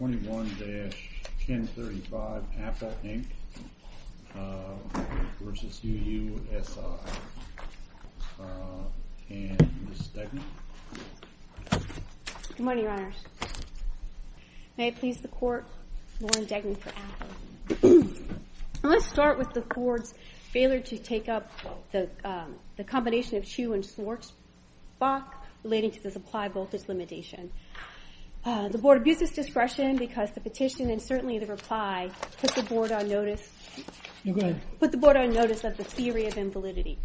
21-1035 AFA, Inc. v. UUSI and Ms. Degney. Good morning, Your Honors. May it please the Court, Lauren Degney for AFA. I want to start with the Court's failure to take up the combination of Chu and Schwartzbach relating to the supply voltage limitation. The Board abuses discretion because the petition and certainly the reply put the Board on notice of the theory of invalidity.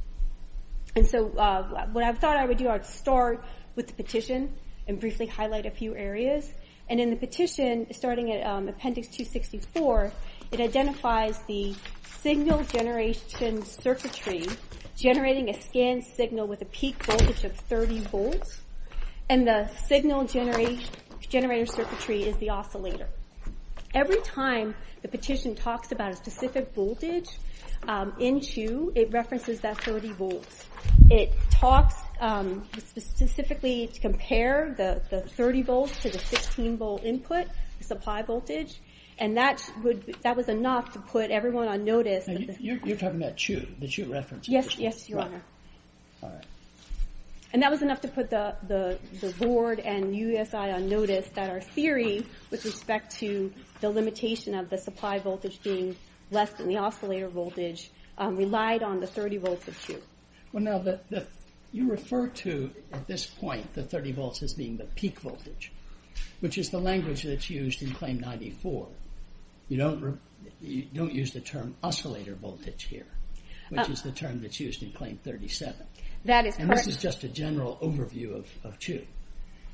And so what I thought I would do is start with the petition and briefly highlight a few areas. And in the petition, starting at Appendix 264, it identifies the signal generation circuitry generating a scanned signal with a peak voltage of 30 volts and the signal generator circuitry is the oscillator. Every time the petition talks about a specific voltage in Chu, it references that 30 volts. It talks specifically to compare the 30 volts to the 15-volt input, the supply voltage, and that was enough to put everyone on notice. You're talking about Chu. The Chu reference. Yes, Your Honor. All right. And that was enough to put the Board and USI on notice that our theory with respect to the limitation of the supply voltage being less than the oscillator voltage relied on the 30 volts of Chu. Well, now, you refer to, at this point, the 30 volts as being the peak voltage, which is the language that's used in Claim 94. You don't use the term oscillator voltage here, which is the term that's used in Claim 37. And this is just a general overview of Chu.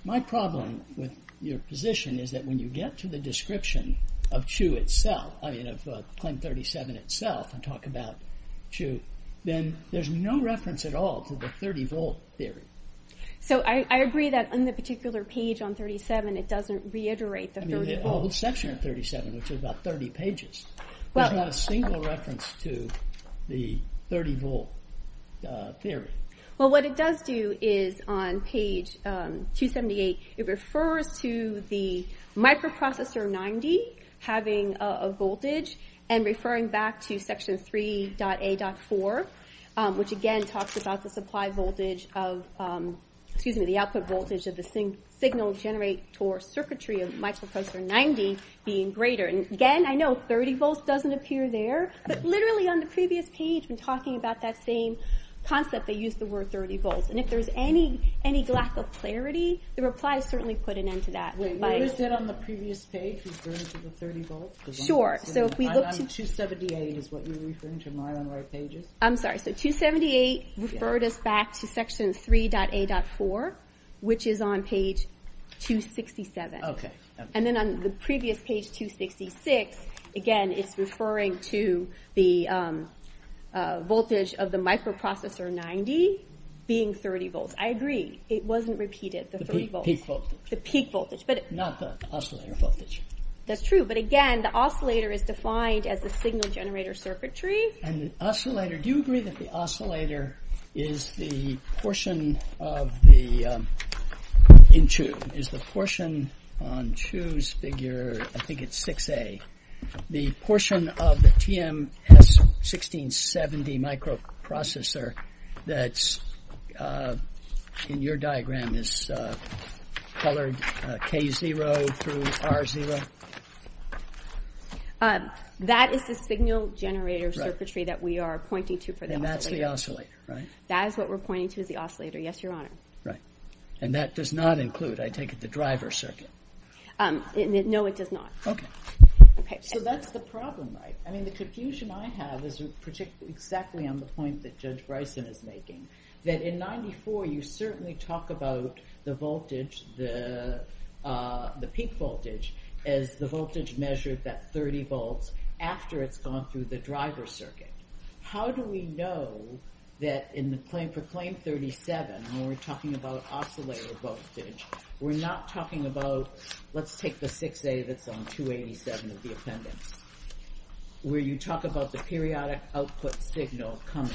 My problem with your position is that when you get to the description of Chu itself, I mean, of Claim 37 itself, and talk about Chu, then there's no reference at all to the 30-volt theory. So I agree that on the particular page on 37, it doesn't reiterate the 30 volts. I mean, the whole section of 37, which is about 30 pages, does not have a single reference to the 30-volt theory. Well, what it does do is, on page 278, it refers to the microprocessor 90 having a voltage and referring back to section 3.A.4, which, again, talks about the supply voltage of, excuse me, the output voltage of the signal generator circuitry of microprocessor 90 being greater. And again, I know 30 volts doesn't appear there, but literally on the previous page, when talking about that same concept, they used the word 30 volts. And if there's any lack of clarity, the reply has certainly put an end to that. Wait, what is it on the previous page referring to the 30 volts? Sure, so if we look to... 278 is what you're referring to. I'm sorry, so 278 referred us back to section 3.A.4, which is on page 267. And then on the previous page, 266, again, it's referring to the voltage of the microprocessor 90 being 30 volts. I agree, it wasn't repeated, the 30 volts. The peak voltage, not the oscillator voltage. That's true, but again, the oscillator is defined as the signal generator circuitry. And the oscillator, do you agree that the oscillator is the portion of the... In Chu, is the portion on Chu's figure, I think it's 6A, the portion of the TM-S1670 microprocessor that's in your diagram is colored K0 through R0? That is the signal generator circuitry that we are pointing to for the oscillator. And that's the oscillator, right? That is what we're pointing to as the oscillator, yes, Your Honor. Right, and that does not include, I take it, the driver circuit? No, it does not. Okay. So that's the problem, right? I mean, the confusion I have is exactly on the point that Judge Bryson is making, that in 94, you certainly talk about the voltage, the peak voltage, as the voltage measured at 30 volts after it's gone through the driver circuit. How do we know that for claim 37, when we're talking about oscillator voltage, we're not talking about, let's take the 6A that's on 287 of the appendix, where you talk about the periodic output signal coming,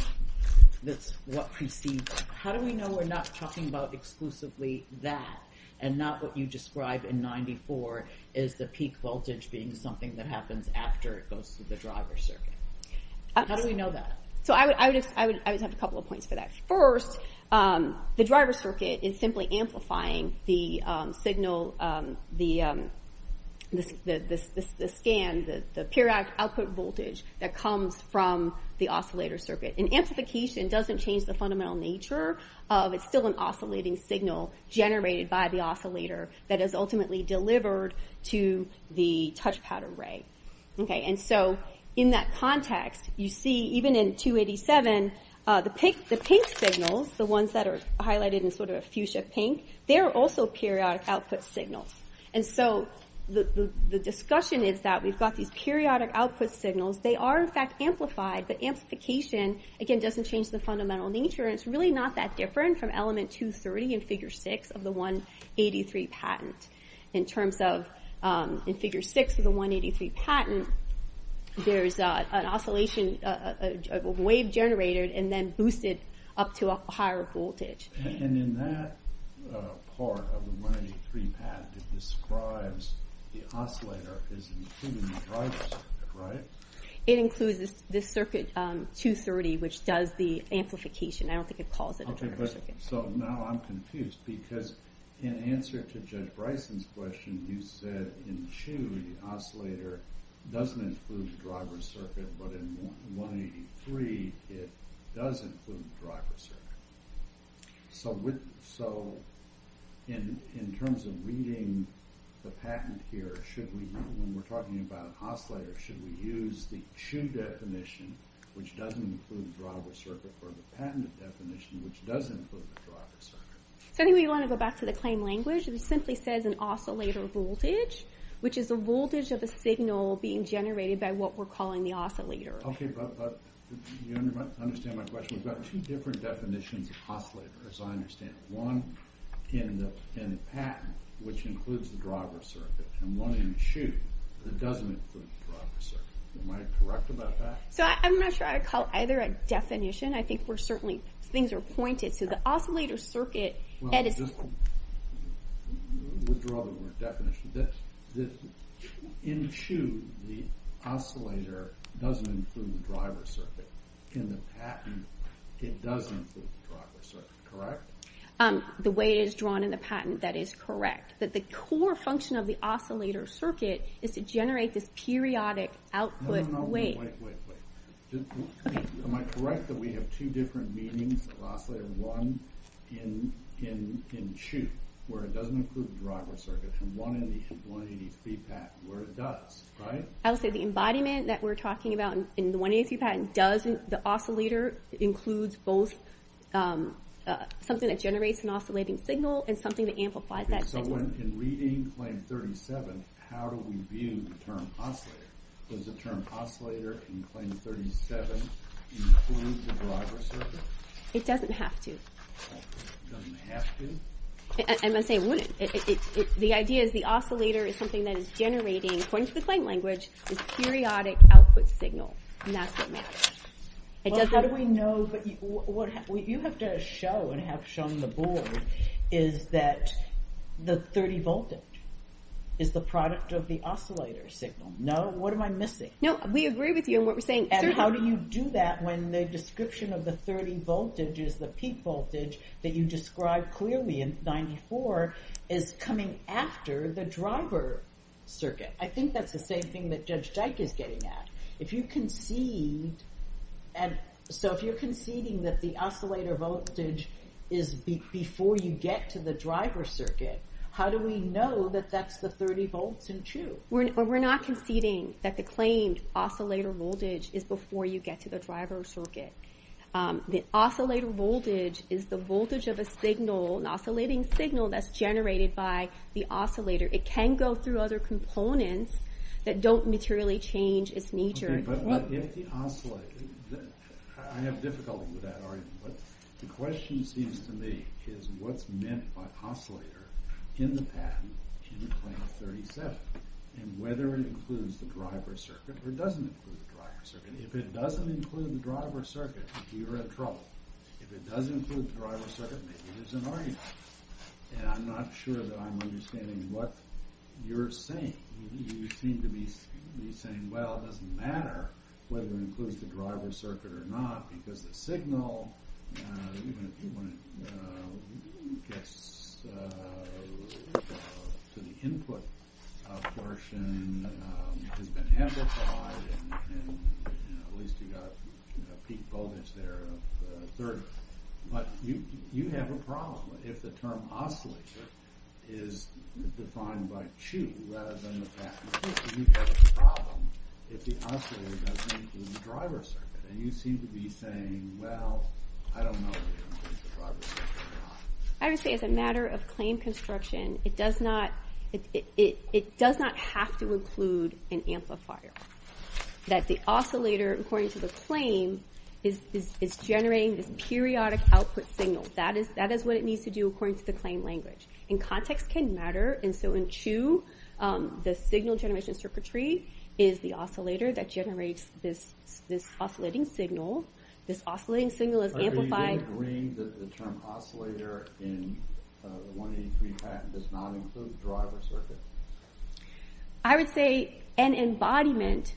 that's what precedes it. How do we know we're not talking about exclusively that, and not what you describe in 94 as the peak voltage being something that happens after it goes through the driver circuit? How do we know that? So I would have a couple of points for that. First, the driver circuit is simply amplifying the signal, the scan, the periodic output voltage that comes from the oscillator circuit. And amplification doesn't change the fundamental nature of, it's still an oscillating signal generated by the oscillator that is ultimately delivered to the touchpad array. And so in that context, you see, even in 287, the pink signals, the ones that are highlighted in sort of a fuchsia pink, they're also periodic output signals. And so the discussion is that we've got these periodic output signals, they are in fact amplified, but amplification, again, doesn't change the fundamental nature and it's really not that different from element 230 in figure six of the 183 patent. In terms of, in figure six of the 183 patent, there's an oscillation, a wave generated and then boosted up to a higher voltage. And in that part of the 183 patent, it describes the oscillator as including the driver circuit, right? It includes this circuit 230, which does the amplification. I don't think it calls it a driver circuit. So now I'm confused, because in answer to Judge Bryson's question, you said in CHU, the oscillator doesn't include the driver circuit, but in 183, it does include the driver circuit. So in terms of reading the patent here, when we're talking about an oscillator, should we use the CHU definition, which doesn't include the driver circuit, or the patent definition, which does include the driver circuit? So I think we want to go back to the claim language. It simply says an oscillator voltage, which is the voltage of a signal being generated by what we're calling the oscillator. Okay, but you understand my question. We've got two different definitions of oscillator, as I understand it. One in the patent, which includes the driver circuit, and one in CHU that doesn't include the driver circuit. Am I correct about that? So I'm not sure I'd call either a definition. I think we're certainly, things are pointed. Well, I'll just withdraw the word definition. In CHU, the oscillator doesn't include the driver circuit. In the patent, it does include the driver circuit, correct? The way it is drawn in the patent, that is correct. But the core function of the oscillator circuit is to generate this periodic output wave. No, no, no, wait, wait, wait. Am I correct that we have two different meanings of oscillator? One in CHU, where it doesn't include the driver circuit, and one in the 183 patent, where it does, right? I would say the embodiment that we're talking about in the 183 patent doesn't, the oscillator includes both something that generates an oscillating signal and something that amplifies that signal. So in reading claim 37, how do we view the term oscillator? Does the term oscillator in claim 37 include the driver circuit? It doesn't have to. It doesn't have to? I'm not saying it wouldn't. The idea is the oscillator is something that is generating, according to the claim language, this periodic output signal, and that's what matters. Well, how do we know, but you have to show and have shown the board is that the 30 voltage is the product of the oscillator signal. No? What am I missing? No, we agree with you in what we're saying. And how do you do that when the description of the 30 voltage is the peak voltage that you described clearly in 94 is coming after the driver circuit? I think that's the same thing that Judge Dyke is getting at. If you concede, so if you're conceding that the oscillator voltage is before you get to the driver circuit, how do we know that that's the 30 volts in CHU? We're not conceding that the claimed oscillator voltage is before you get to the driver circuit. The oscillator voltage is the voltage of a signal, an oscillating signal that's generated by the oscillator. It can go through other components that don't materially change its nature. But if the oscillator, I have difficulty with that argument, but the question seems to me is what's meant by oscillator in the patent in claim 37? And whether it includes the driver circuit or doesn't include the driver circuit. If it doesn't include the driver circuit, you're in trouble. If it does include the driver circuit, maybe there's an argument. And I'm not sure that I'm understanding what you're saying. You seem to be saying, well, it doesn't matter whether it includes the driver circuit or not because the signal, even when it gets to the input portion, has been amplified and at least you've got peak voltage there of 30. But you have a problem if the term oscillator is defined by CHU rather than the patent. You have a problem if the oscillator doesn't include the driver circuit. And you seem to be saying, well, I don't know whether it includes the driver circuit or not. I would say as a matter of claim construction, it does not have to include an amplifier. That the oscillator, according to the claim, is generating this periodic output signal. That is what it needs to do according to the claim language. And context can matter. And so in CHU, the signal generation circuitry is the oscillator that generates this oscillating signal. This oscillating signal is amplified. Are you then agreeing that the term oscillator in the 183 patent does not include driver circuit? I would say an embodiment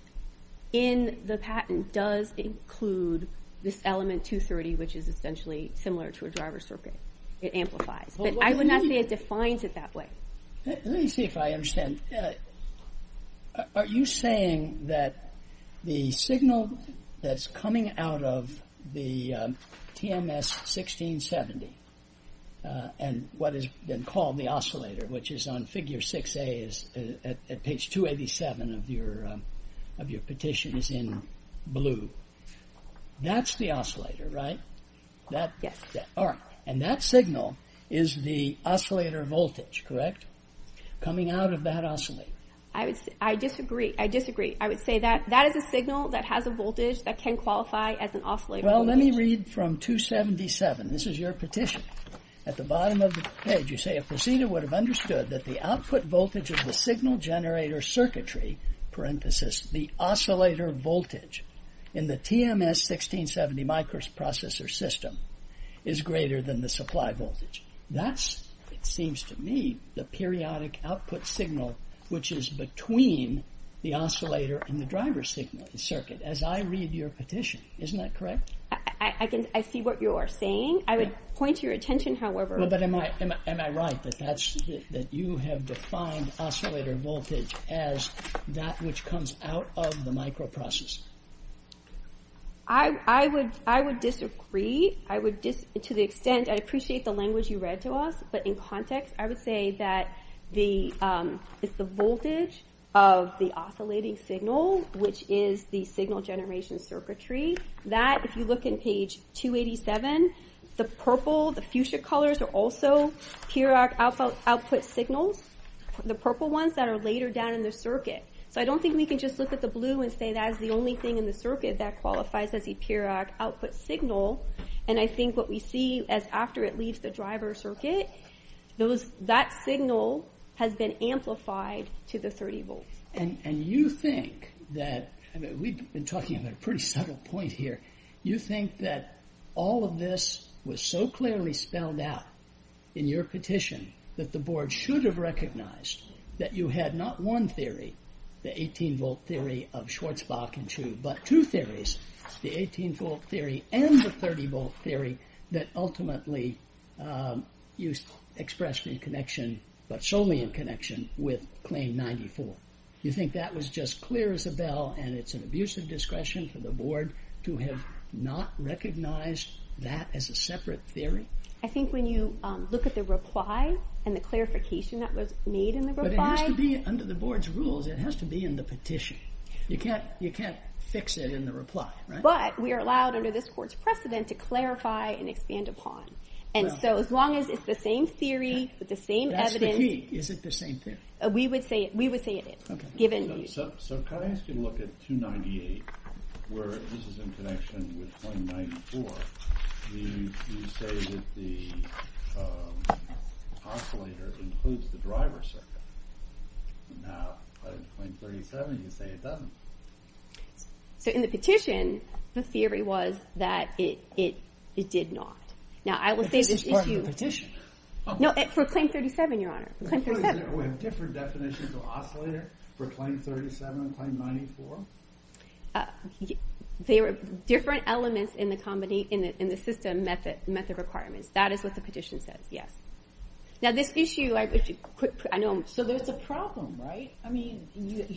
in the patent does include this element 230, which is essentially similar to a driver circuit. It amplifies. But I would not say it defines it that way. Let me see if I understand. Are you saying that the signal that's coming out of the TMS 1670 and what has been called the oscillator, which is on figure 6A at page 287 of your petition is in blue. That's the oscillator, right? Yes. All right. And that signal is the oscillator voltage, correct? Coming out of that oscillator. I disagree. I disagree. I would say that that is a signal that has a voltage that can qualify as an oscillator voltage. Well, let me read from 277. This is your petition. At the bottom of the page, you say, a procedure would have understood that the output voltage of the signal generator circuitry, parenthesis, the oscillator voltage, in the TMS 1670 microprocessor system is greater than the supply voltage. That, it seems to me, the periodic output signal, which is between the oscillator and the driver signal, the circuit, as I read your petition. Isn't that correct? I see what you are saying. I would point to your attention, however. Well, but am I right that you have defined oscillator voltage as that which comes out of the microprocessor? I would disagree. To the extent, I appreciate the language you read to us, but in context, I would say that it's the voltage of the oscillating signal, which is the signal generation circuitry. That, if you look in page 287, the purple, the fuchsia colors are also periodic output signals. The purple ones that are later down in the circuit. So I don't think we can just look at the blue and say that is the only thing in the circuit that qualifies as a periodic output signal. And I think what we see is after it leaves the driver circuit, that signal has been amplified to the 30 volts. And you think that, we've been talking about a pretty subtle point here, you think that all of this was so clearly spelled out in your petition that the board should have recognized that you had not one theory, the 18-volt theory of Schwarzbach and Chu, but two theories. The 18-volt theory and the 30-volt theory that ultimately you expressed in connection, but solely in connection with claim 94. You think that was just clear as a bell and it's an abuse of discretion for the board to have not recognized that as a separate theory? I think when you look at the reply and the clarification that was made in the reply... But it has to be under the board's rules, it has to be in the petition. You can't fix it in the reply, right? But we are allowed under this court's precedent to clarify and expand upon. And so as long as it's the same theory, with the same evidence... That's the key, is it the same theory? We would say it is, given... So can I ask you to look at 298, where this is in connection with claim 94. You say that the oscillator includes the driver circuit. Now, claim 37, you say it doesn't. So in the petition, the theory was that it did not. This is part of the petition. No, for claim 37, Your Honor. We have different definitions of oscillator for claim 37 and claim 94? They were different elements in the system method requirements. That is what the petition says, yes. Now this issue... So there's a problem, right? I mean,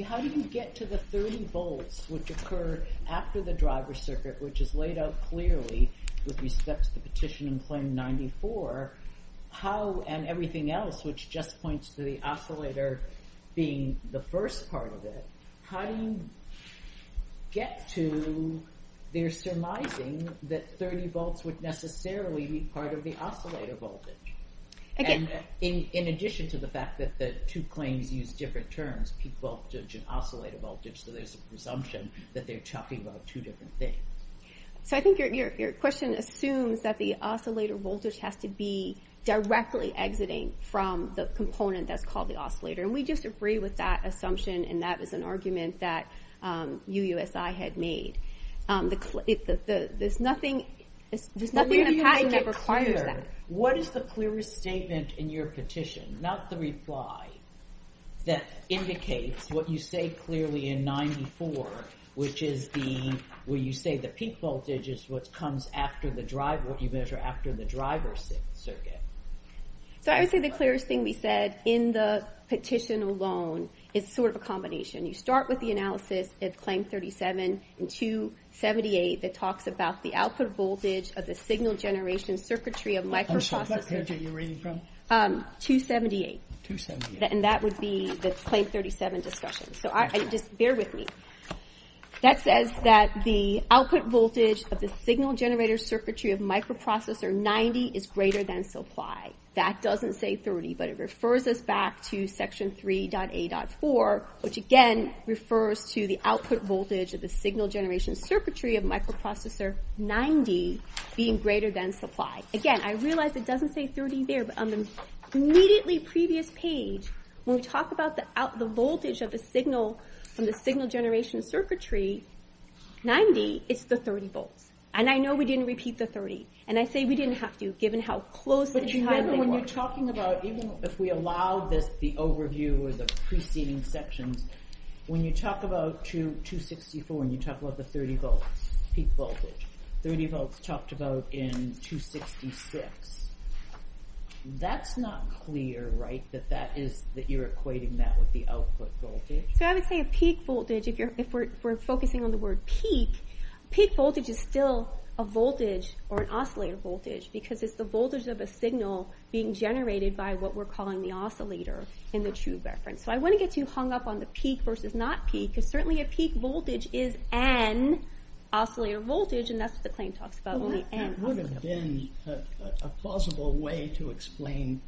how do you get to the 30 volts, which occur after the driver circuit, which is laid out clearly with respect to the petition and claim 94? How, and everything else, which just points to the oscillator being the first part of it, how do you get to their surmising that 30 volts would necessarily be part of the oscillator voltage? In addition to the fact that the two claims use different terms, peak voltage and oscillator voltage, so there's a presumption that they're talking about two different things. So I think your question assumes that the oscillator voltage has to be directly exiting from the component that's called the oscillator, and we disagree with that assumption, and that is an argument that UUSI had made. There's nothing in the patent that requires that. What is the clearest statement in your petition, not the reply, that indicates what you say clearly in 94, which is the... where you say the peak voltage is what comes after the driver, what you measure after the driver circuit. So I would say the clearest thing we said in the petition alone is sort of a combination. You start with the analysis at claim 37 and 278 that talks about the output voltage of the signal generation circuitry of microprocessor... I'm sorry, what page are you reading from? 278. 278. And that would be the claim 37 discussion. So just bear with me. That says that the output voltage of the signal generator circuitry of microprocessor 90 is greater than supply. That doesn't say 30, but it refers us back to section 3.A.4, which again refers to the output voltage of the signal generation circuitry of microprocessor 90 being greater than supply. Again, I realize it doesn't say 30 there, but on the immediately previous page, when we talk about the voltage of the signal from the signal generation circuitry 90, it's the 30 volts. And I know we didn't repeat the 30, and I say we didn't have to, given how close... But you remember when you're talking about... even if we allow the overview or the preceding sections, when you talk about 264 and you talk about the 30 volts peak voltage, 30 volts talked about in 266, that's not clear, right, that you're equating that with the output voltage? So I would say a peak voltage, if we're focusing on the word peak, peak voltage is still a voltage or an oscillator voltage because it's the voltage of a signal being generated by what we're calling the oscillator in the true reference. So I wouldn't get too hung up on the peak versus not peak, because certainly a peak voltage is an oscillator voltage, and that's what the claim talks about. Well, that would have been a plausible way to explain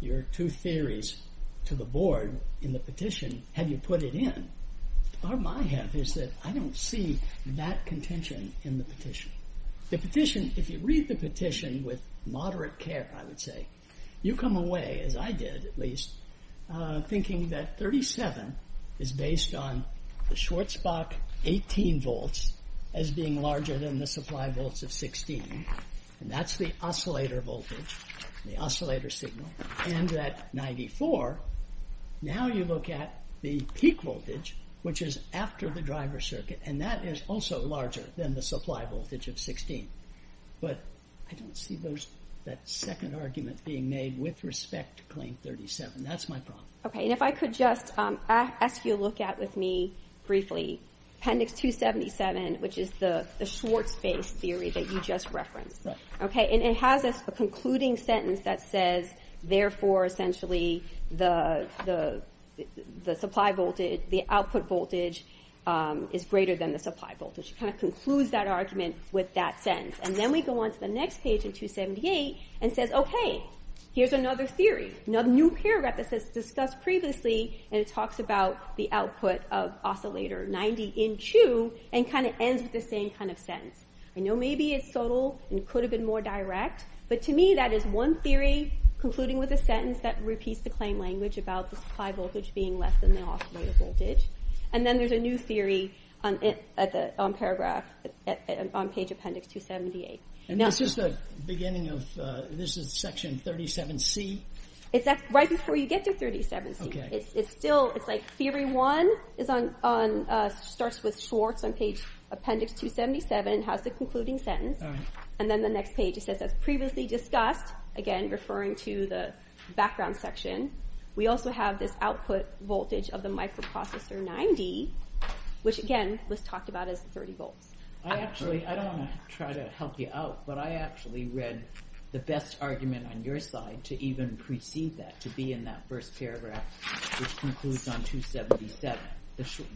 your two theories to the board in the petition had you put it in. The problem I have is that I don't see that contention in the petition. The petition, if you read the petition with moderate care, I would say, you come away, as I did at least, thinking that 37 is based on the Schwarzbach 18 volts as being larger than the supply volts of 16, and that's the oscillator voltage, the oscillator signal, and that 94, now you look at the peak voltage, which is after the driver circuit, and that is also larger than the supply voltage of 16. But I don't see that second argument being made with respect to claim 37. That's my problem. Okay, and if I could just ask you to look at with me briefly Appendix 277, which is the Schwarzbach theory that you just referenced. Okay, and it has a concluding sentence that says, therefore, essentially, the output voltage is greater than the supply voltage. It kind of concludes that argument with that sentence, and then we go on to the next page in 278 and says, okay, here's another theory, another new paragraph that's discussed previously, and it talks about the output of oscillator 90 in 2 and kind of ends with the same kind of sentence. I know maybe it's subtle and could have been more direct, but to me that is one theory concluding with a sentence that repeats the claim language about the supply voltage being less than the oscillator voltage, and then there's a new theory on paragraph, on page Appendix 278. And this is the beginning of, this is section 37C? It's right before you get to 37C. It's still, it's like Theory 1 is on, starts with Schwarz on page Appendix 277, has the concluding sentence, and then the next page it says, as previously discussed, again, referring to the background section, we also have this output voltage of the microprocessor 90, which again was talked about as 30 volts. I actually, I don't want to try to help you out, but I actually read the best argument on your side to even precede that, to be in that first paragraph, which concludes on 277.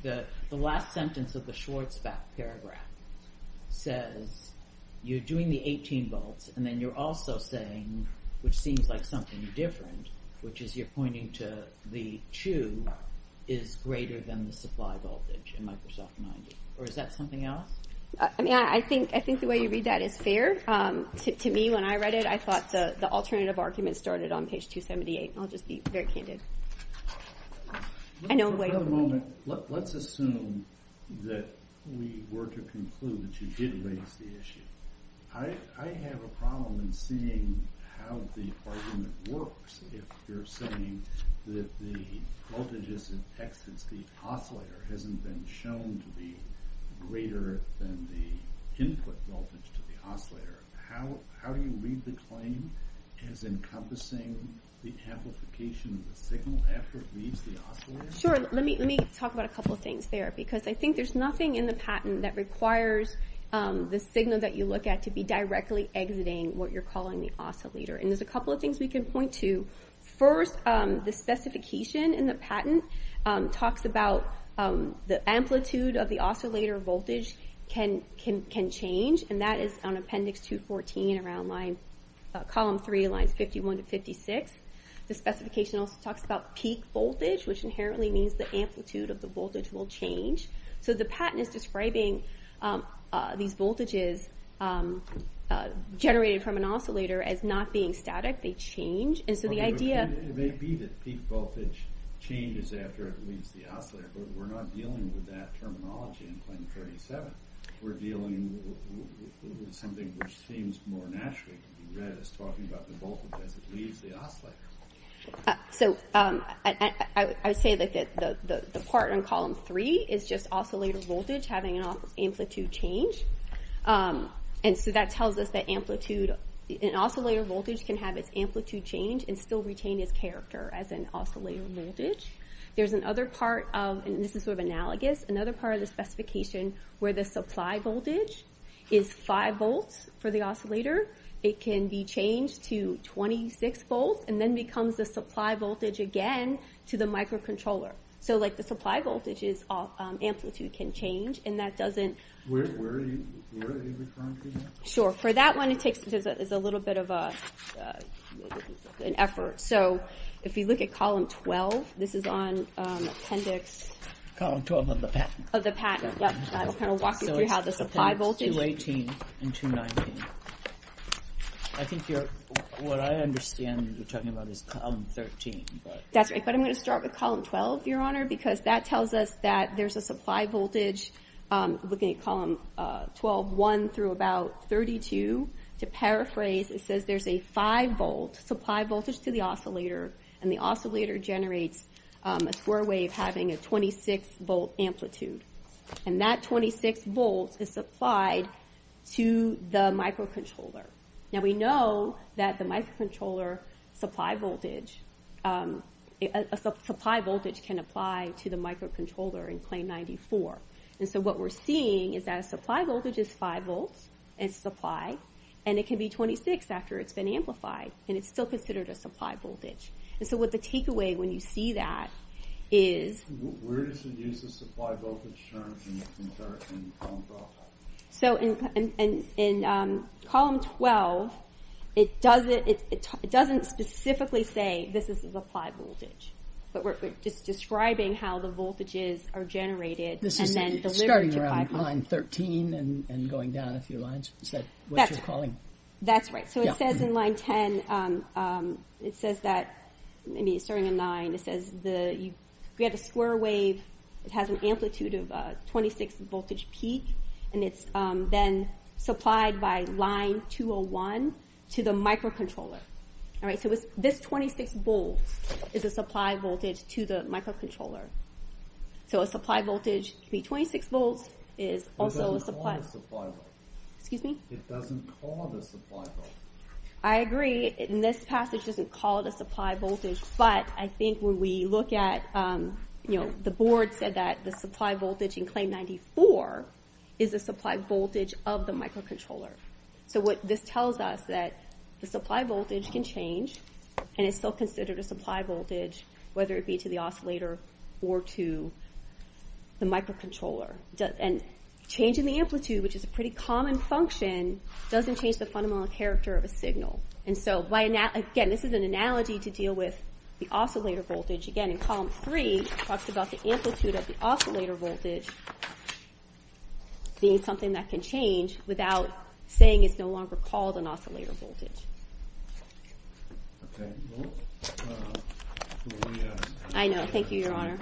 The last sentence of the Schwarzbach paragraph says, you're doing the 18 volts, and then you're also saying, which seems like something different, which is you're pointing to the 2 is greater than the supply voltage in Microsoft 90. Or is that something else? I mean, I think the way you read that is fair. To me, when I read it, I thought the alternative argument started on page 278. I'll just be very candid. I know way over there. Let's assume that we were to conclude that you did raise the issue. I have a problem in seeing how the argument works. If you're saying that the voltages in Texas, the oscillator hasn't been shown to be greater than the input voltage to the oscillator, how do you read the claim as encompassing the amplification of the signal after it leaves the oscillator? Sure, let me talk about a couple of things there, because I think there's nothing in the patent that requires the signal that you look at to be directly exiting what you're calling the oscillator. And there's a couple of things we can point to. First, the specification in the patent talks about the amplitude of the oscillator voltage can change, and that is on Appendix 214, Column 3, Lines 51 to 56. The specification also talks about peak voltage, which inherently means the amplitude of the voltage will change. So the patent is describing these voltages generated from an oscillator as not being static. They change. It may be that peak voltage changes after it leaves the oscillator, but we're not dealing with that terminology in Claim 37. We're dealing with something which seems more naturally to be read as talking about the voltage as it leaves the oscillator. So, I would say that the part in Column 3 is just oscillator voltage having an amplitude change. And so that tells us that amplitude, an oscillator voltage can have its amplitude change and still retain its character as an oscillator voltage. There's another part of, and this is sort of analogous, another part of the specification where the supply voltage is 5 volts for the oscillator. It can be changed to 26 volts and then becomes the supply voltage again to the microcontroller. So, like, the supply voltage's amplitude can change, and that doesn't... Where are you referring to that? Sure. For that one, it takes a little bit of an effort. So, if you look at Column 12, this is on Appendix... Column 12 of the patent. Of the patent, yep. I'll kind of walk you through how the supply voltage... So, it's Appendix 218 and 219. I think you're... What I understand you're talking about is Column 13, but... That's right, but I'm going to start with Column 12, Your Honor, because that tells us that there's a supply voltage, looking at Column 12-1 through about 32. To paraphrase, it says there's a 5-volt supply voltage to the oscillator, and the oscillator generates a square wave having a 26-volt amplitude, and that 26 volts is supplied to the microcontroller. Now, we know that the microcontroller supply voltage... A supply voltage can apply to the microcontroller in plane 94, and so what we're seeing is that a supply voltage is 5 volts in supply, and it can be 26 after it's been amplified, and it's still considered a supply voltage. And so what the takeaway when you see that is... Where does it use the supply voltage term in Column 12? So, in Column 12, it doesn't specifically say this is a supply voltage, but we're just describing how the voltages are generated and then delivered to 5 volts. This is starting around Line 13 and going down a few lines? Is that what you're calling? That's right. So it says in Line 10, it says that... I mean, it's starting in 9. It says you get a square wave. It has an amplitude of 26-voltage peak, and it's then supplied by Line 201 to the microcontroller. So this 26 volts is a supply voltage to the microcontroller. So a supply voltage can be 26 volts. It doesn't cause a supply voltage. Excuse me? It doesn't cause a supply voltage. I agree. In this passage, it doesn't call it a supply voltage, but I think when we look at, you know, the board said that the supply voltage in Claim 94 is the supply voltage of the microcontroller. So what this tells us is that the supply voltage can change, and it's still considered a supply voltage, whether it be to the oscillator or to the microcontroller. And changing the amplitude, which is a pretty common function, doesn't change the fundamental character of a signal. And so, again, this is an analogy to deal with the oscillator voltage. Again, in Column 3, it talks about the amplitude of the oscillator voltage being something that can change without saying it's no longer called an oscillator voltage. Okay. I know. Thank you, Your Honor.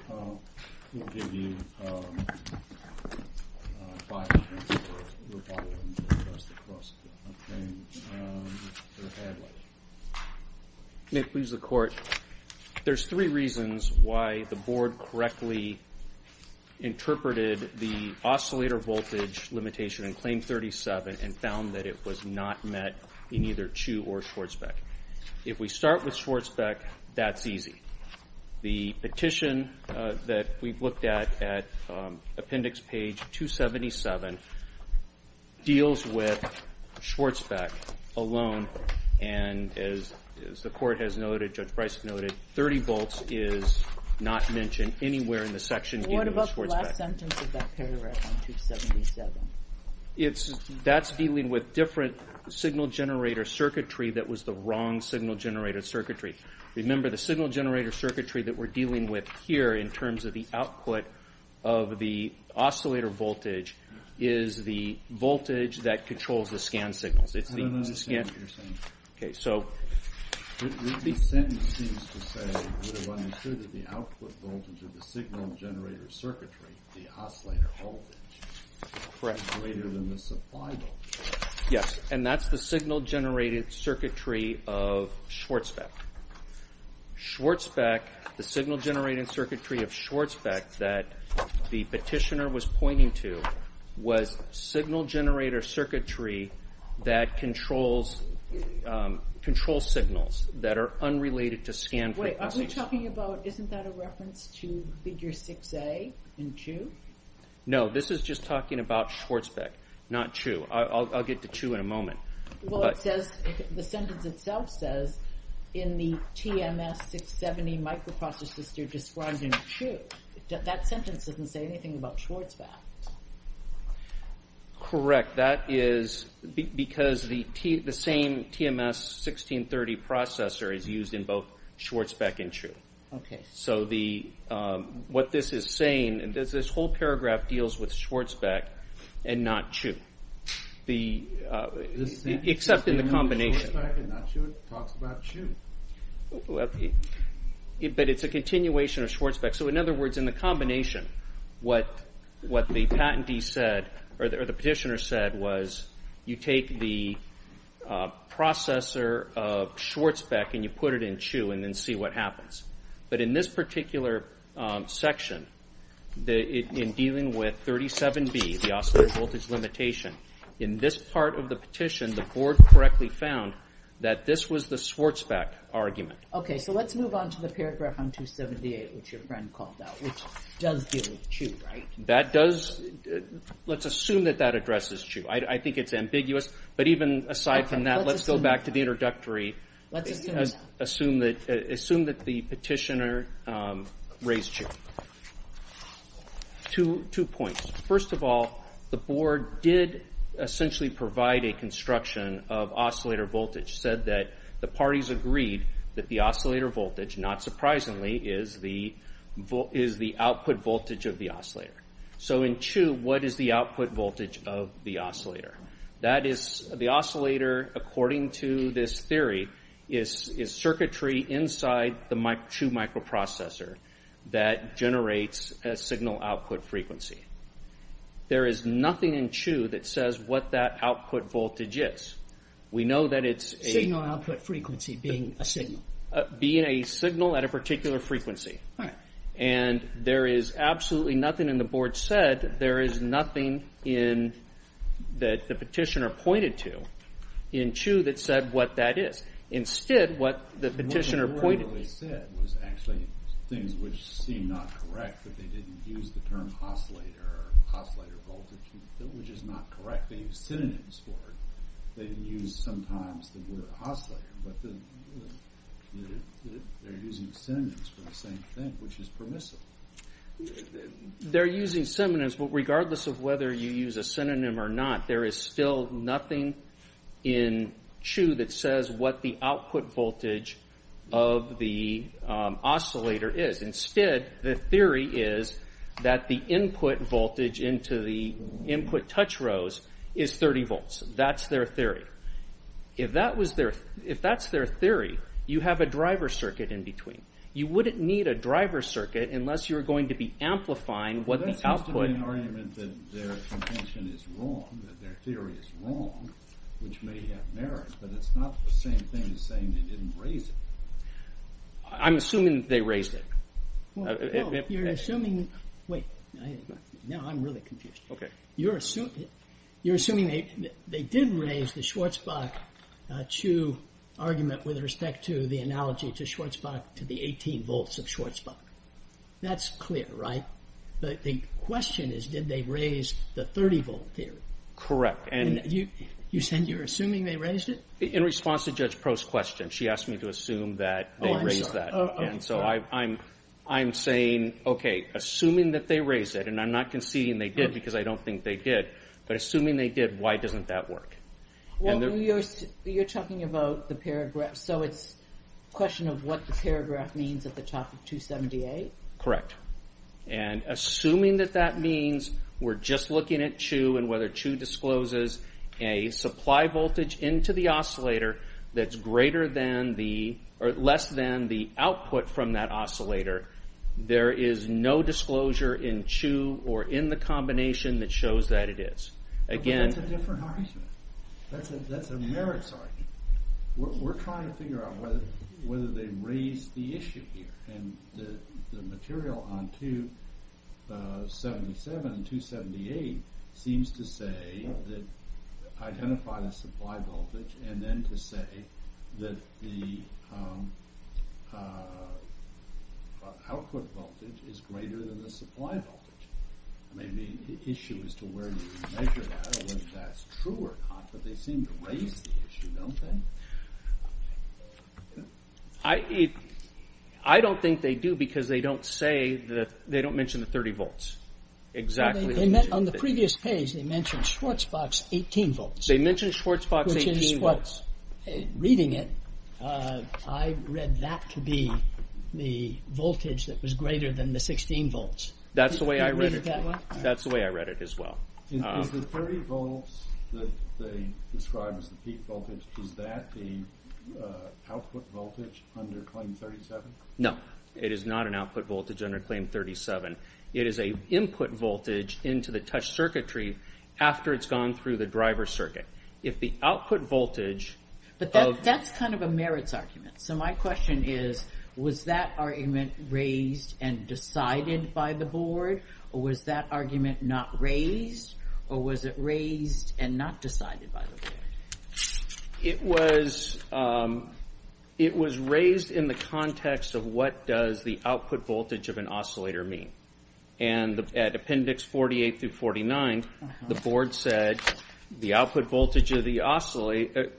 May it please the Court. There's three reasons why the board correctly interpreted the oscillator voltage limitation in Claim 37 and found that it was not met in either Chu or Schwartzbeck. If we start with Schwartzbeck, that's easy. The petition that we've looked at at Appendix Page 277 deals with Schwartzbeck alone, and as the Court has noted, Judge Bryce noted, 30 volts is not mentioned anywhere in the section dealing with Schwartzbeck. What about the last sentence of that paragraph on 277? That's dealing with different signal generator circuitry that was the wrong signal generator circuitry. Remember, the signal generator circuitry that we're dealing with here in terms of the output of the oscillator voltage is the voltage that controls the scan signals. I don't understand what you're saying. The sentence seems to say, the output voltage of the signal generator circuitry, the oscillator voltage, is greater than the supply voltage. Yes, and that's the signal generator circuitry of Schwartzbeck. Schwartzbeck, the signal generator circuitry of Schwartzbeck that the petitioner was pointing to was signal generator circuitry that controls signals that are unrelated to scan frequency. Wait, aren't we talking about, isn't that a reference to Figure 6a in 2? No, this is just talking about Schwartzbeck, not 2. I'll get to 2 in a moment. Well, it says, the sentence itself says, in the TMS 670 microprocessor sister described in 2, that sentence doesn't say anything about Schwartzbeck. Correct, that is because the same TMS 1630 processor is used in both Schwartzbeck and 2. So what this is saying, this whole paragraph deals with Schwartzbeck and not 2. Except in the combination. Schwartzbeck and not 2, it talks about 2. But it's a continuation of Schwartzbeck. So in other words, in the combination, what the patentee said, or the petitioner said, was you take the processor of Schwartzbeck and you put it in 2 and then see what happens. But in this particular section, in dealing with 37B, the oscillating voltage limitation, in this part of the petition, the board correctly found that this was the Schwartzbeck argument. Okay, so let's move on to the paragraph on 278, which your friend called that, which does deal with 2, right? That does, let's assume that that addresses 2. I think it's ambiguous, but even aside from that, let's go back to the introductory. Assume that the petitioner raised 2. Two points. First of all, the board did essentially provide a construction of oscillator voltage, said that the parties agreed that the oscillator voltage, not surprisingly, is the output voltage of the oscillator. So in 2, what is the output voltage of the oscillator? That is, the oscillator, according to this theory, is circuitry inside the 2 microprocessor that generates a signal output frequency. There is nothing in 2 that says what that output voltage is. We know that it's a... Signal output frequency being a signal. Being a signal at a particular frequency. And there is absolutely nothing in the board said, there is nothing in, that the petitioner pointed to, in 2 that said what that is. Instead, what the petitioner pointed... What the board really said was actually things which seem not correct, that they didn't use the term oscillator, oscillator voltage, which is not correct. They used synonyms for it. They didn't use, sometimes, the word oscillator, but they're using synonyms for the same thing, which is permissible. They're using synonyms, but regardless of whether you use a synonym or not, there is still nothing in 2 that says what the output voltage of the oscillator is. Instead, the theory is that the input voltage into the input touch rows is 30 volts. That's their theory. If that's their theory, you have a driver circuit in between. You wouldn't need a driver circuit unless you were going to be amplifying what the output... But that seems to be an argument that their contention is wrong, that their theory is wrong, which may have merit, but it's not the same thing as saying they didn't raise it. I'm assuming they raised it. Well, you're assuming... Wait, now I'm really confused. Okay. You're assuming they did raise the Schwarzbach-Chu argument with respect to the analogy to Schwarzbach, to the 18 volts of Schwarzbach. That's clear, right? But the question is, did they raise the 30-volt theory? Correct, and... You said you're assuming they raised it? In response to Judge Proh's question, she asked me to assume that they raised that. Oh, I'm sorry. And so I'm saying, okay, assuming that they raised it, and I'm not conceding they did because I don't think they did, but assuming they did, why doesn't that work? Well, you're talking about the paragraph, so it's a question of what the paragraph means at the top of 278? Correct. And assuming that that means we're just looking at Chu and whether Chu discloses a supply voltage into the oscillator that's greater than the... or less than the output from that oscillator, there is no disclosure in Chu or in the combination that shows that it is. But that's a different argument. That's a merits argument. We're trying to figure out whether they raised the issue here, and the material on 277 and 278 seems to say that identifying a supply voltage and then to say that the output voltage is greater than the supply voltage. There may be an issue as to where you measure that or whether that's true or not, but they seem to raise the issue, don't they? I don't think they do because they don't mention the 30 volts exactly. On the previous page, they mentioned Schwarzbach's 18 volts. They mentioned Schwarzbach's 18 volts. Reading it, I read that to be the voltage that was greater than the 16 volts. That's the way I read it. That's the way I read it as well. Is the 30 volts that they describe as the peak voltage, is that the output voltage under Claim 37? No, it is not an output voltage under Claim 37. It is an input voltage into the touch circuitry after it's gone through the driver circuit. If the output voltage of- That's kind of a merits argument. My question is, was that argument raised and decided by the board, or was that argument not raised, or was it raised and not decided by the board? It was raised in the context of what does the output voltage of an oscillator mean. At appendix 48 through 49, the board said the output voltage of the oscillator-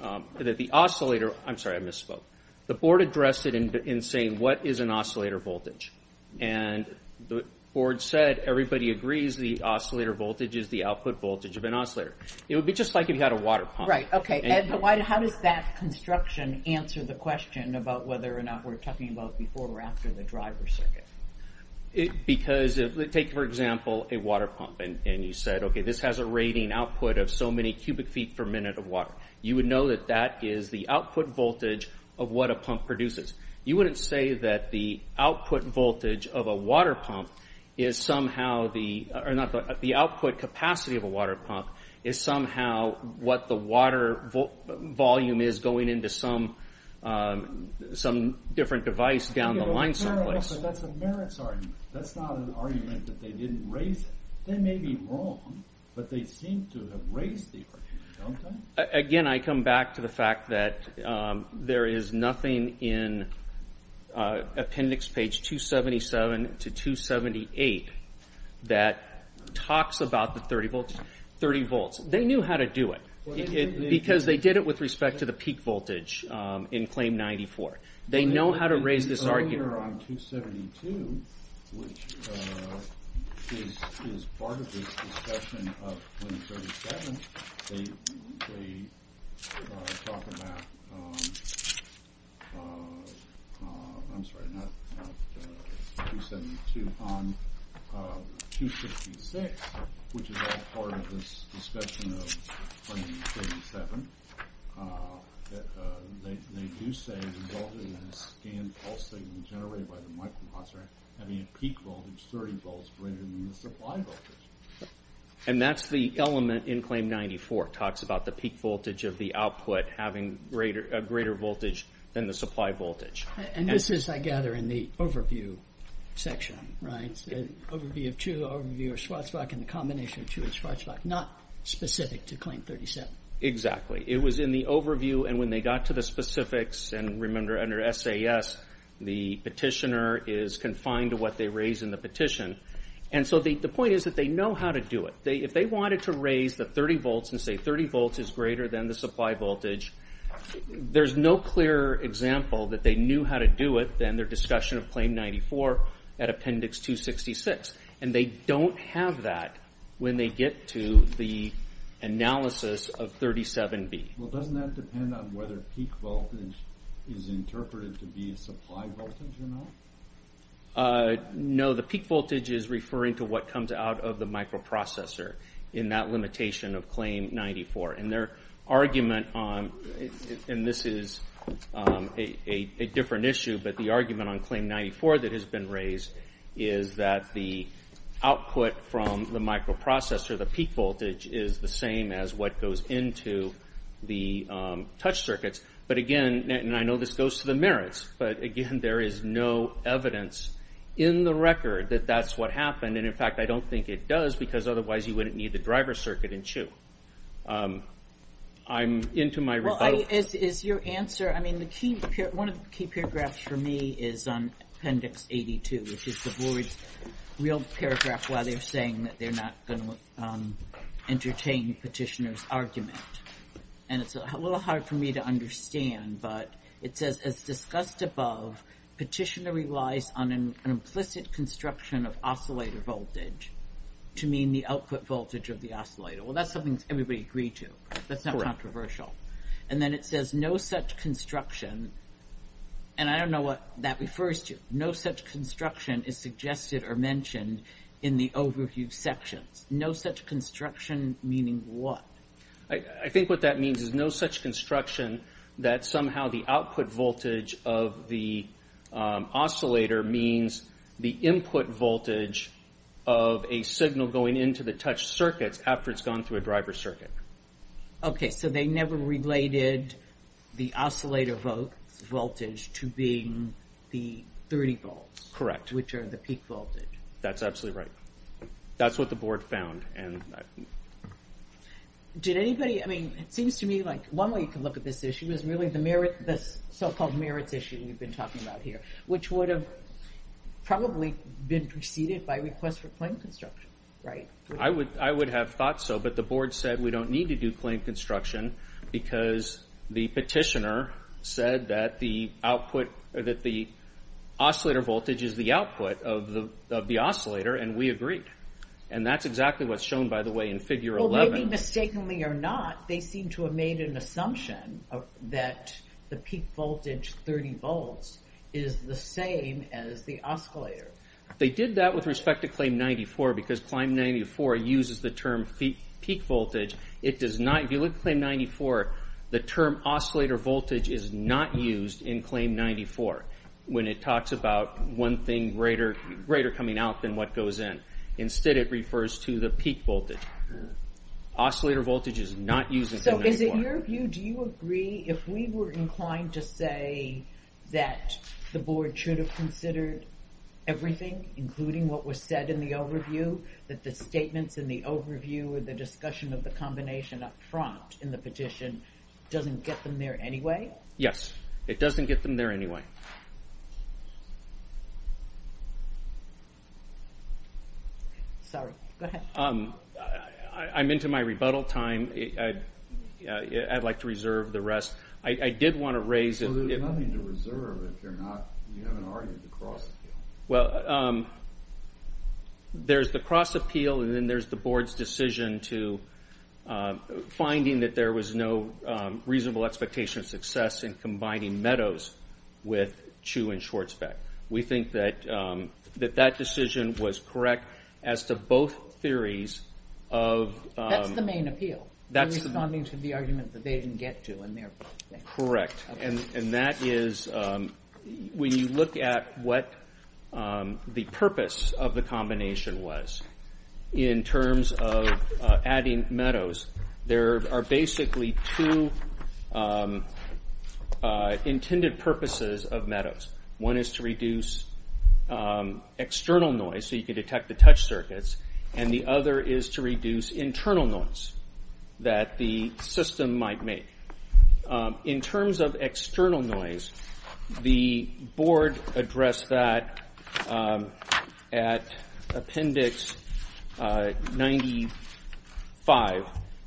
I'm sorry, I misspoke. The board addressed it in saying, what is an oscillator voltage? The board said, everybody agrees the oscillator voltage is the output voltage of an oscillator. It would be just like if you had a water pump. How does that construction answer the question about whether or not we're talking about before or after the driver circuit? Take, for example, a water pump, and you said, okay, this has a rating output of so many cubic feet per minute of water. You would know that that is the output voltage of what a pump produces. You wouldn't say that the output voltage of a water pump is somehow the- The output capacity of a water pump is somehow what the water volume is going into some different device down the line someplace. That's a merits argument. That's not an argument that they didn't raise it. They may be wrong, but they seem to have raised the opportunity, don't they? Again, I come back to the fact that there is nothing in appendix page 277 to 278 that talks about the 30 volts. They knew how to do it, because they did it with respect to the peak voltage in claim 94. They know how to raise this argument. Earlier on 272, which is part of this discussion of 237, they talk about, I'm sorry, not 272, on 256, which is part of this discussion of 277. They do say it resulted in a scanned pulse signal generated by the microprocessor having a peak voltage 30 volts greater than the supply voltage. That's the element in claim 94. It talks about the peak voltage of the output having a greater voltage than the supply voltage. This is, I gather, in the overview section. Overview of Schwartzbach and the combination of Schwartzbach, not specific to claim 37. Exactly. It was in the overview, and when they got to the specifics, and remember under SAS, the petitioner is confined to what they raise in the petition. The point is that they know how to do it. If they wanted to raise the 30 volts and say 30 volts is greater than the supply voltage, there's no clearer example that they knew how to do it than their discussion of claim 94 at appendix 266. They don't have that when they get to the analysis of 37B. Doesn't that depend on whether peak voltage is interpreted to be a supply voltage or not? No, the peak voltage is referring to what comes out of the microprocessor in that limitation of claim 94. Their argument on, and this is a different issue, but the argument on claim 94 that has been raised is that the output from the microprocessor, the peak voltage, is the same as what goes into the touch circuits. But again, and I know this goes to the merits, but again there is no evidence in the record that that's what happened, and in fact I don't think it does because otherwise you wouldn't need the driver circuit in CHU. I'm into my rebuttal. Is your answer, I mean, one of the key paragraphs for me is on appendix 82, which is the board's real paragraph where they're saying that they're not going to entertain petitioner's argument. And it's a little hard for me to understand, but it says, as discussed above, petitioner relies on an implicit construction of oscillator voltage to mean the output voltage of the oscillator. Well, that's something everybody agreed to. That's not controversial. And then it says no such construction, and I don't know what that refers to. No such construction is suggested or mentioned in the overview sections. No such construction meaning what? I think what that means is no such construction that somehow the output voltage of the oscillator means the input voltage of a signal going into the touch circuits after it's gone through a driver circuit. Okay, so they never related the oscillator voltage to being the 30 volts. Correct. Which are the peak voltage. That's absolutely right. That's what the board found. Did anybody, I mean, it seems to me like one way you can look at this issue is really the so-called merits issue we've been talking about here, which would have probably been preceded by request for claim construction, right? I would have thought so, but the board said we don't need to do claim construction because the petitioner said that the output, that the oscillator voltage is the output of the oscillator, and we agreed. And that's exactly what's shown, by the way, in figure 11. Well, maybe mistakenly or not, they seem to have made an assumption that the peak voltage, 30 volts, is the same as the oscillator. They did that with respect to claim 94 because claim 94 uses the term peak voltage. If you look at claim 94, the term oscillator voltage is not used in claim 94 when it talks about one thing greater coming out than what goes in. Instead, it refers to the peak voltage. Oscillator voltage is not used in claim 94. So is it your view, do you agree, if we were inclined to say that the board should have considered everything, including what was said in the overview, that the statements in the overview or the discussion of the combination up front in the petition doesn't get them there anyway? Yes. It doesn't get them there anyway. Sorry. Go ahead. I'm into my rebuttal time. I'd like to reserve the rest. I did want to raise... Well, there's nothing to reserve if you're not... You haven't argued across the board. Well, there's the cross-appeal, and then there's the board's decision to finding that there was no reasonable expectation of success in combining Meadows with Chu and Schwartzbeck. We think that that decision was correct as to both theories of... That's the main appeal, responding to the argument that they didn't get to. Correct. And that is... When you look at what the purpose of the combination was in terms of adding Meadows, there are basically two intended purposes of Meadows. One is to reduce external noise so you can detect the touch circuits, and the other is to reduce internal noise that the system might make. In terms of external noise, the board addressed that at appendix 95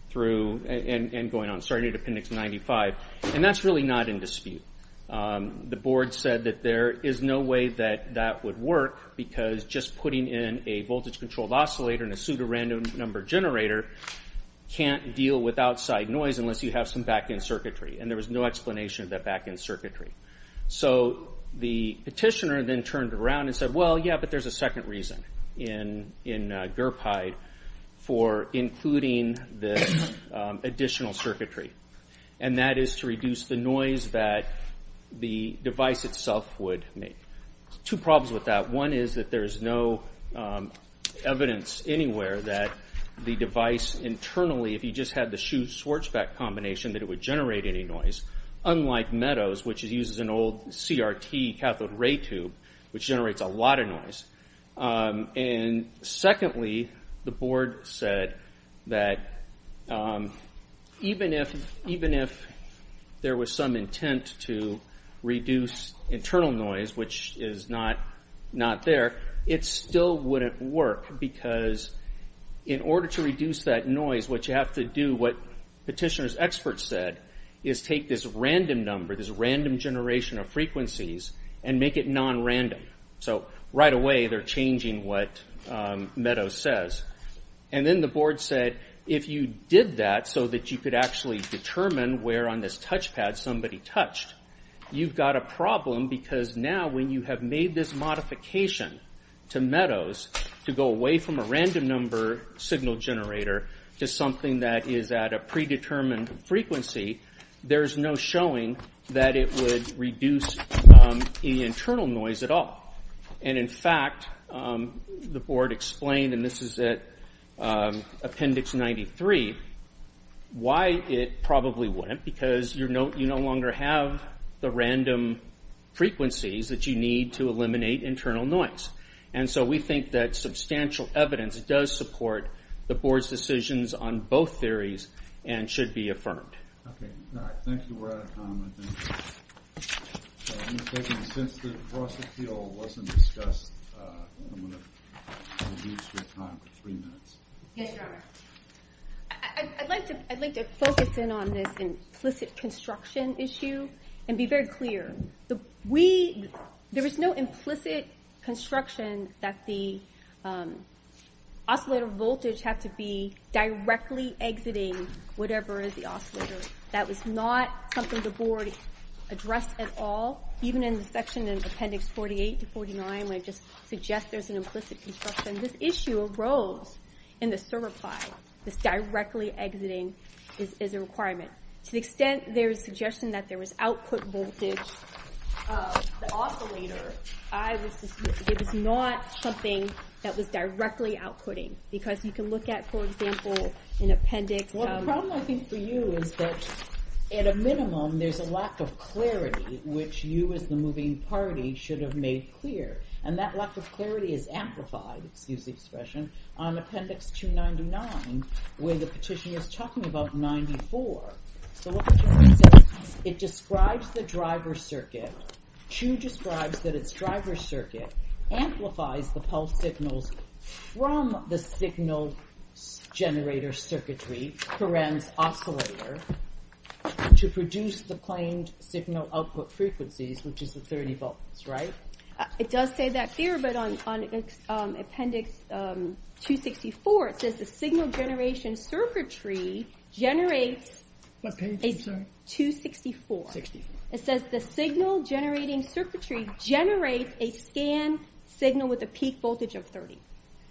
through... And going on, starting at appendix 95. And that's really not in dispute. The board said that there is no way that that would work because just putting in a voltage-controlled oscillator and a pseudorandom number generator can't deal with outside noise unless you have some back-end circuitry, and there was no explanation of that back-end circuitry. So the petitioner then turned around and said, well, yeah, but there's a second reason in GIRPIDE for including this additional circuitry, and that is to reduce the noise that the device itself would make. Two problems with that. One is that there is no evidence anywhere that the device internally, if you just had the Schuh-Schwarzbach combination, that it would generate any noise, unlike Meadows, which uses an old CRT cathode ray tube, which generates a lot of noise. And secondly, the board said that even if there was some intent to reduce internal noise, which is not there, it still wouldn't work because in order to reduce that noise, what you have to do, what petitioner's experts said, is take this random number, this random generation of frequencies, and make it non-random. So right away, they're changing what Meadows says. And then the board said, if you did that so that you could actually determine where on this touchpad somebody touched, you've got a problem because now when you have made this modification to Meadows to go away from a random number signal generator to something that is at a predetermined frequency, there's no showing that it would reduce any internal noise at all. And in fact, the board explained, and this is at Appendix 93, why it probably wouldn't, because you no longer have the random frequencies that you need to eliminate internal noise. And so we think that substantial evidence does support the board's decisions on both theories and should be affirmed. Okay. All right. Thank you, Brad. I'd like to focus in on this implicit construction issue and be very clear. There is no implicit construction that the oscillator voltage had to be directly exiting whatever is the oscillator. That was not something the board addressed at all, even in the section in Appendix 48 to 49 when it just suggests there's an implicit construction. This issue arose in the server pie. This directly exiting is a requirement. To the extent there is suggestion that there was output voltage of the oscillator, it was not something that was directly outputting, because you can look at, for example, in Appendix... Well, the problem, I think, for you is that, at a minimum, there's a lack of clarity, which you as the moving party should have made clear. And that lack of clarity is amplified, excuse the expression, on Appendix 299, where the petition is talking about 94. So what the petition says, it describes the driver circuit. Chu describes that its driver circuit amplifies the pulse signals from the signal generator circuitry, current oscillator, to produce the claimed signal output frequencies, which is the 30 volts, right? It does say that there, but on Appendix 264, it says the signal generation circuitry generates... What page, I'm sorry? 264. 264. It says the signal generating circuitry generates a scanned signal with a peak voltage of 30.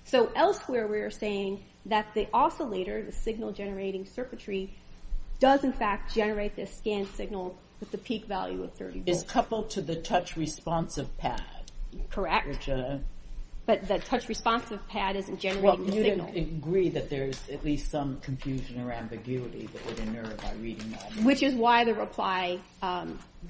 So elsewhere, we are saying that the oscillator, the signal generating circuitry, does, in fact, generate this scanned signal with the peak value of 30 volts. It's coupled to the touch-responsive pad. Correct. Which... But the touch-responsive pad isn't generating the signal. Well, you'd agree that there's at least some confusion or ambiguity that would inerr by reading that. Which is why the reply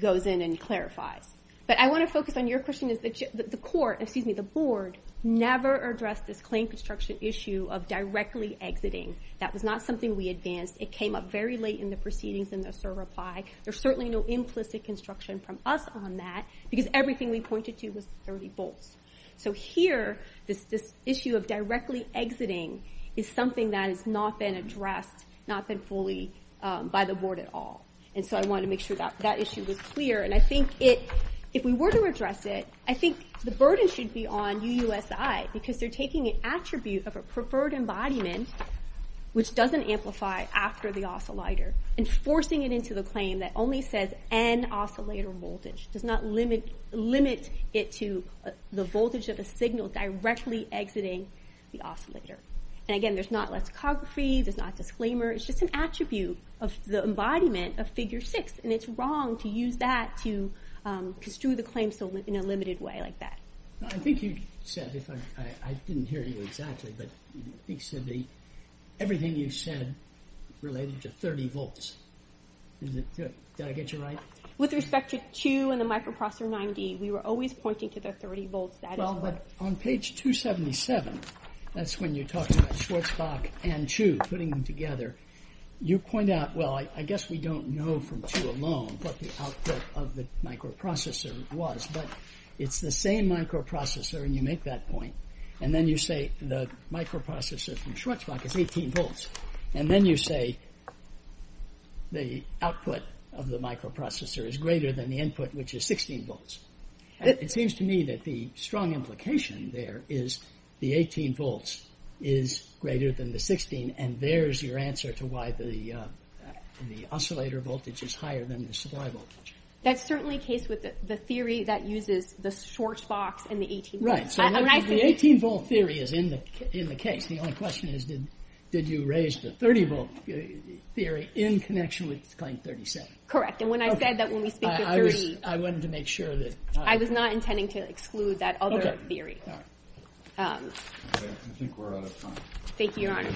goes in and clarifies. But I want to focus on your question, is that the court, excuse me, the board, never addressed this claim construction issue of directly exiting. That was not something we advanced. It came up very late in the proceedings in the SIR reply. There's certainly no implicit construction from us on that, because everything we pointed to was 30 volts. So here, this issue of directly exiting is something that has not been addressed, not been fully by the board at all. And so I wanted to make sure that that issue was clear. And I think if we were to address it, I think the burden should be on UUSI, because they're taking an attribute of a preferred embodiment, which doesn't amplify after the oscillator, and forcing it into the claim that only says N oscillator voltage. Does not limit it to the voltage of a signal directly exiting the oscillator. And again, there's not lexicography, there's not a disclaimer, it's just an attribute of the embodiment of figure six. And it's wrong to use that to construe the claim in a limited way like that. I think you said, I didn't hear you exactly, but I think it should be, everything you said related to 30 volts. Did I get you right? With respect to 2 and the microprocessor 9D, we were always pointing to the 30 volts. Well, but on page 277, that's when you talk about Schwarzbach and Chu, putting them together. You point out, well, I guess we don't know from Chu alone what the output of the microprocessor was, but it's the same microprocessor, and you make that point. And then you say the microprocessor from Schwarzbach is 18 volts. And then you say the output of the microprocessor is greater than the input, which is 16 volts. It seems to me that the strong implication there is the 18 volts is greater than the 16, and there's your answer to why the oscillator voltage is higher than the supply voltage. That's certainly the case with the theory that uses the Schwarzbach and the 18 volts. Right, so the 18-volt theory is in the case. The only question is, did you raise the 30-volt theory in connection with claim 37? Correct, and when I said that when we speak of 30... I wanted to make sure that... I was not intending to exclude that other theory. Okay, I think we're out of time. Thank you, Your Honor.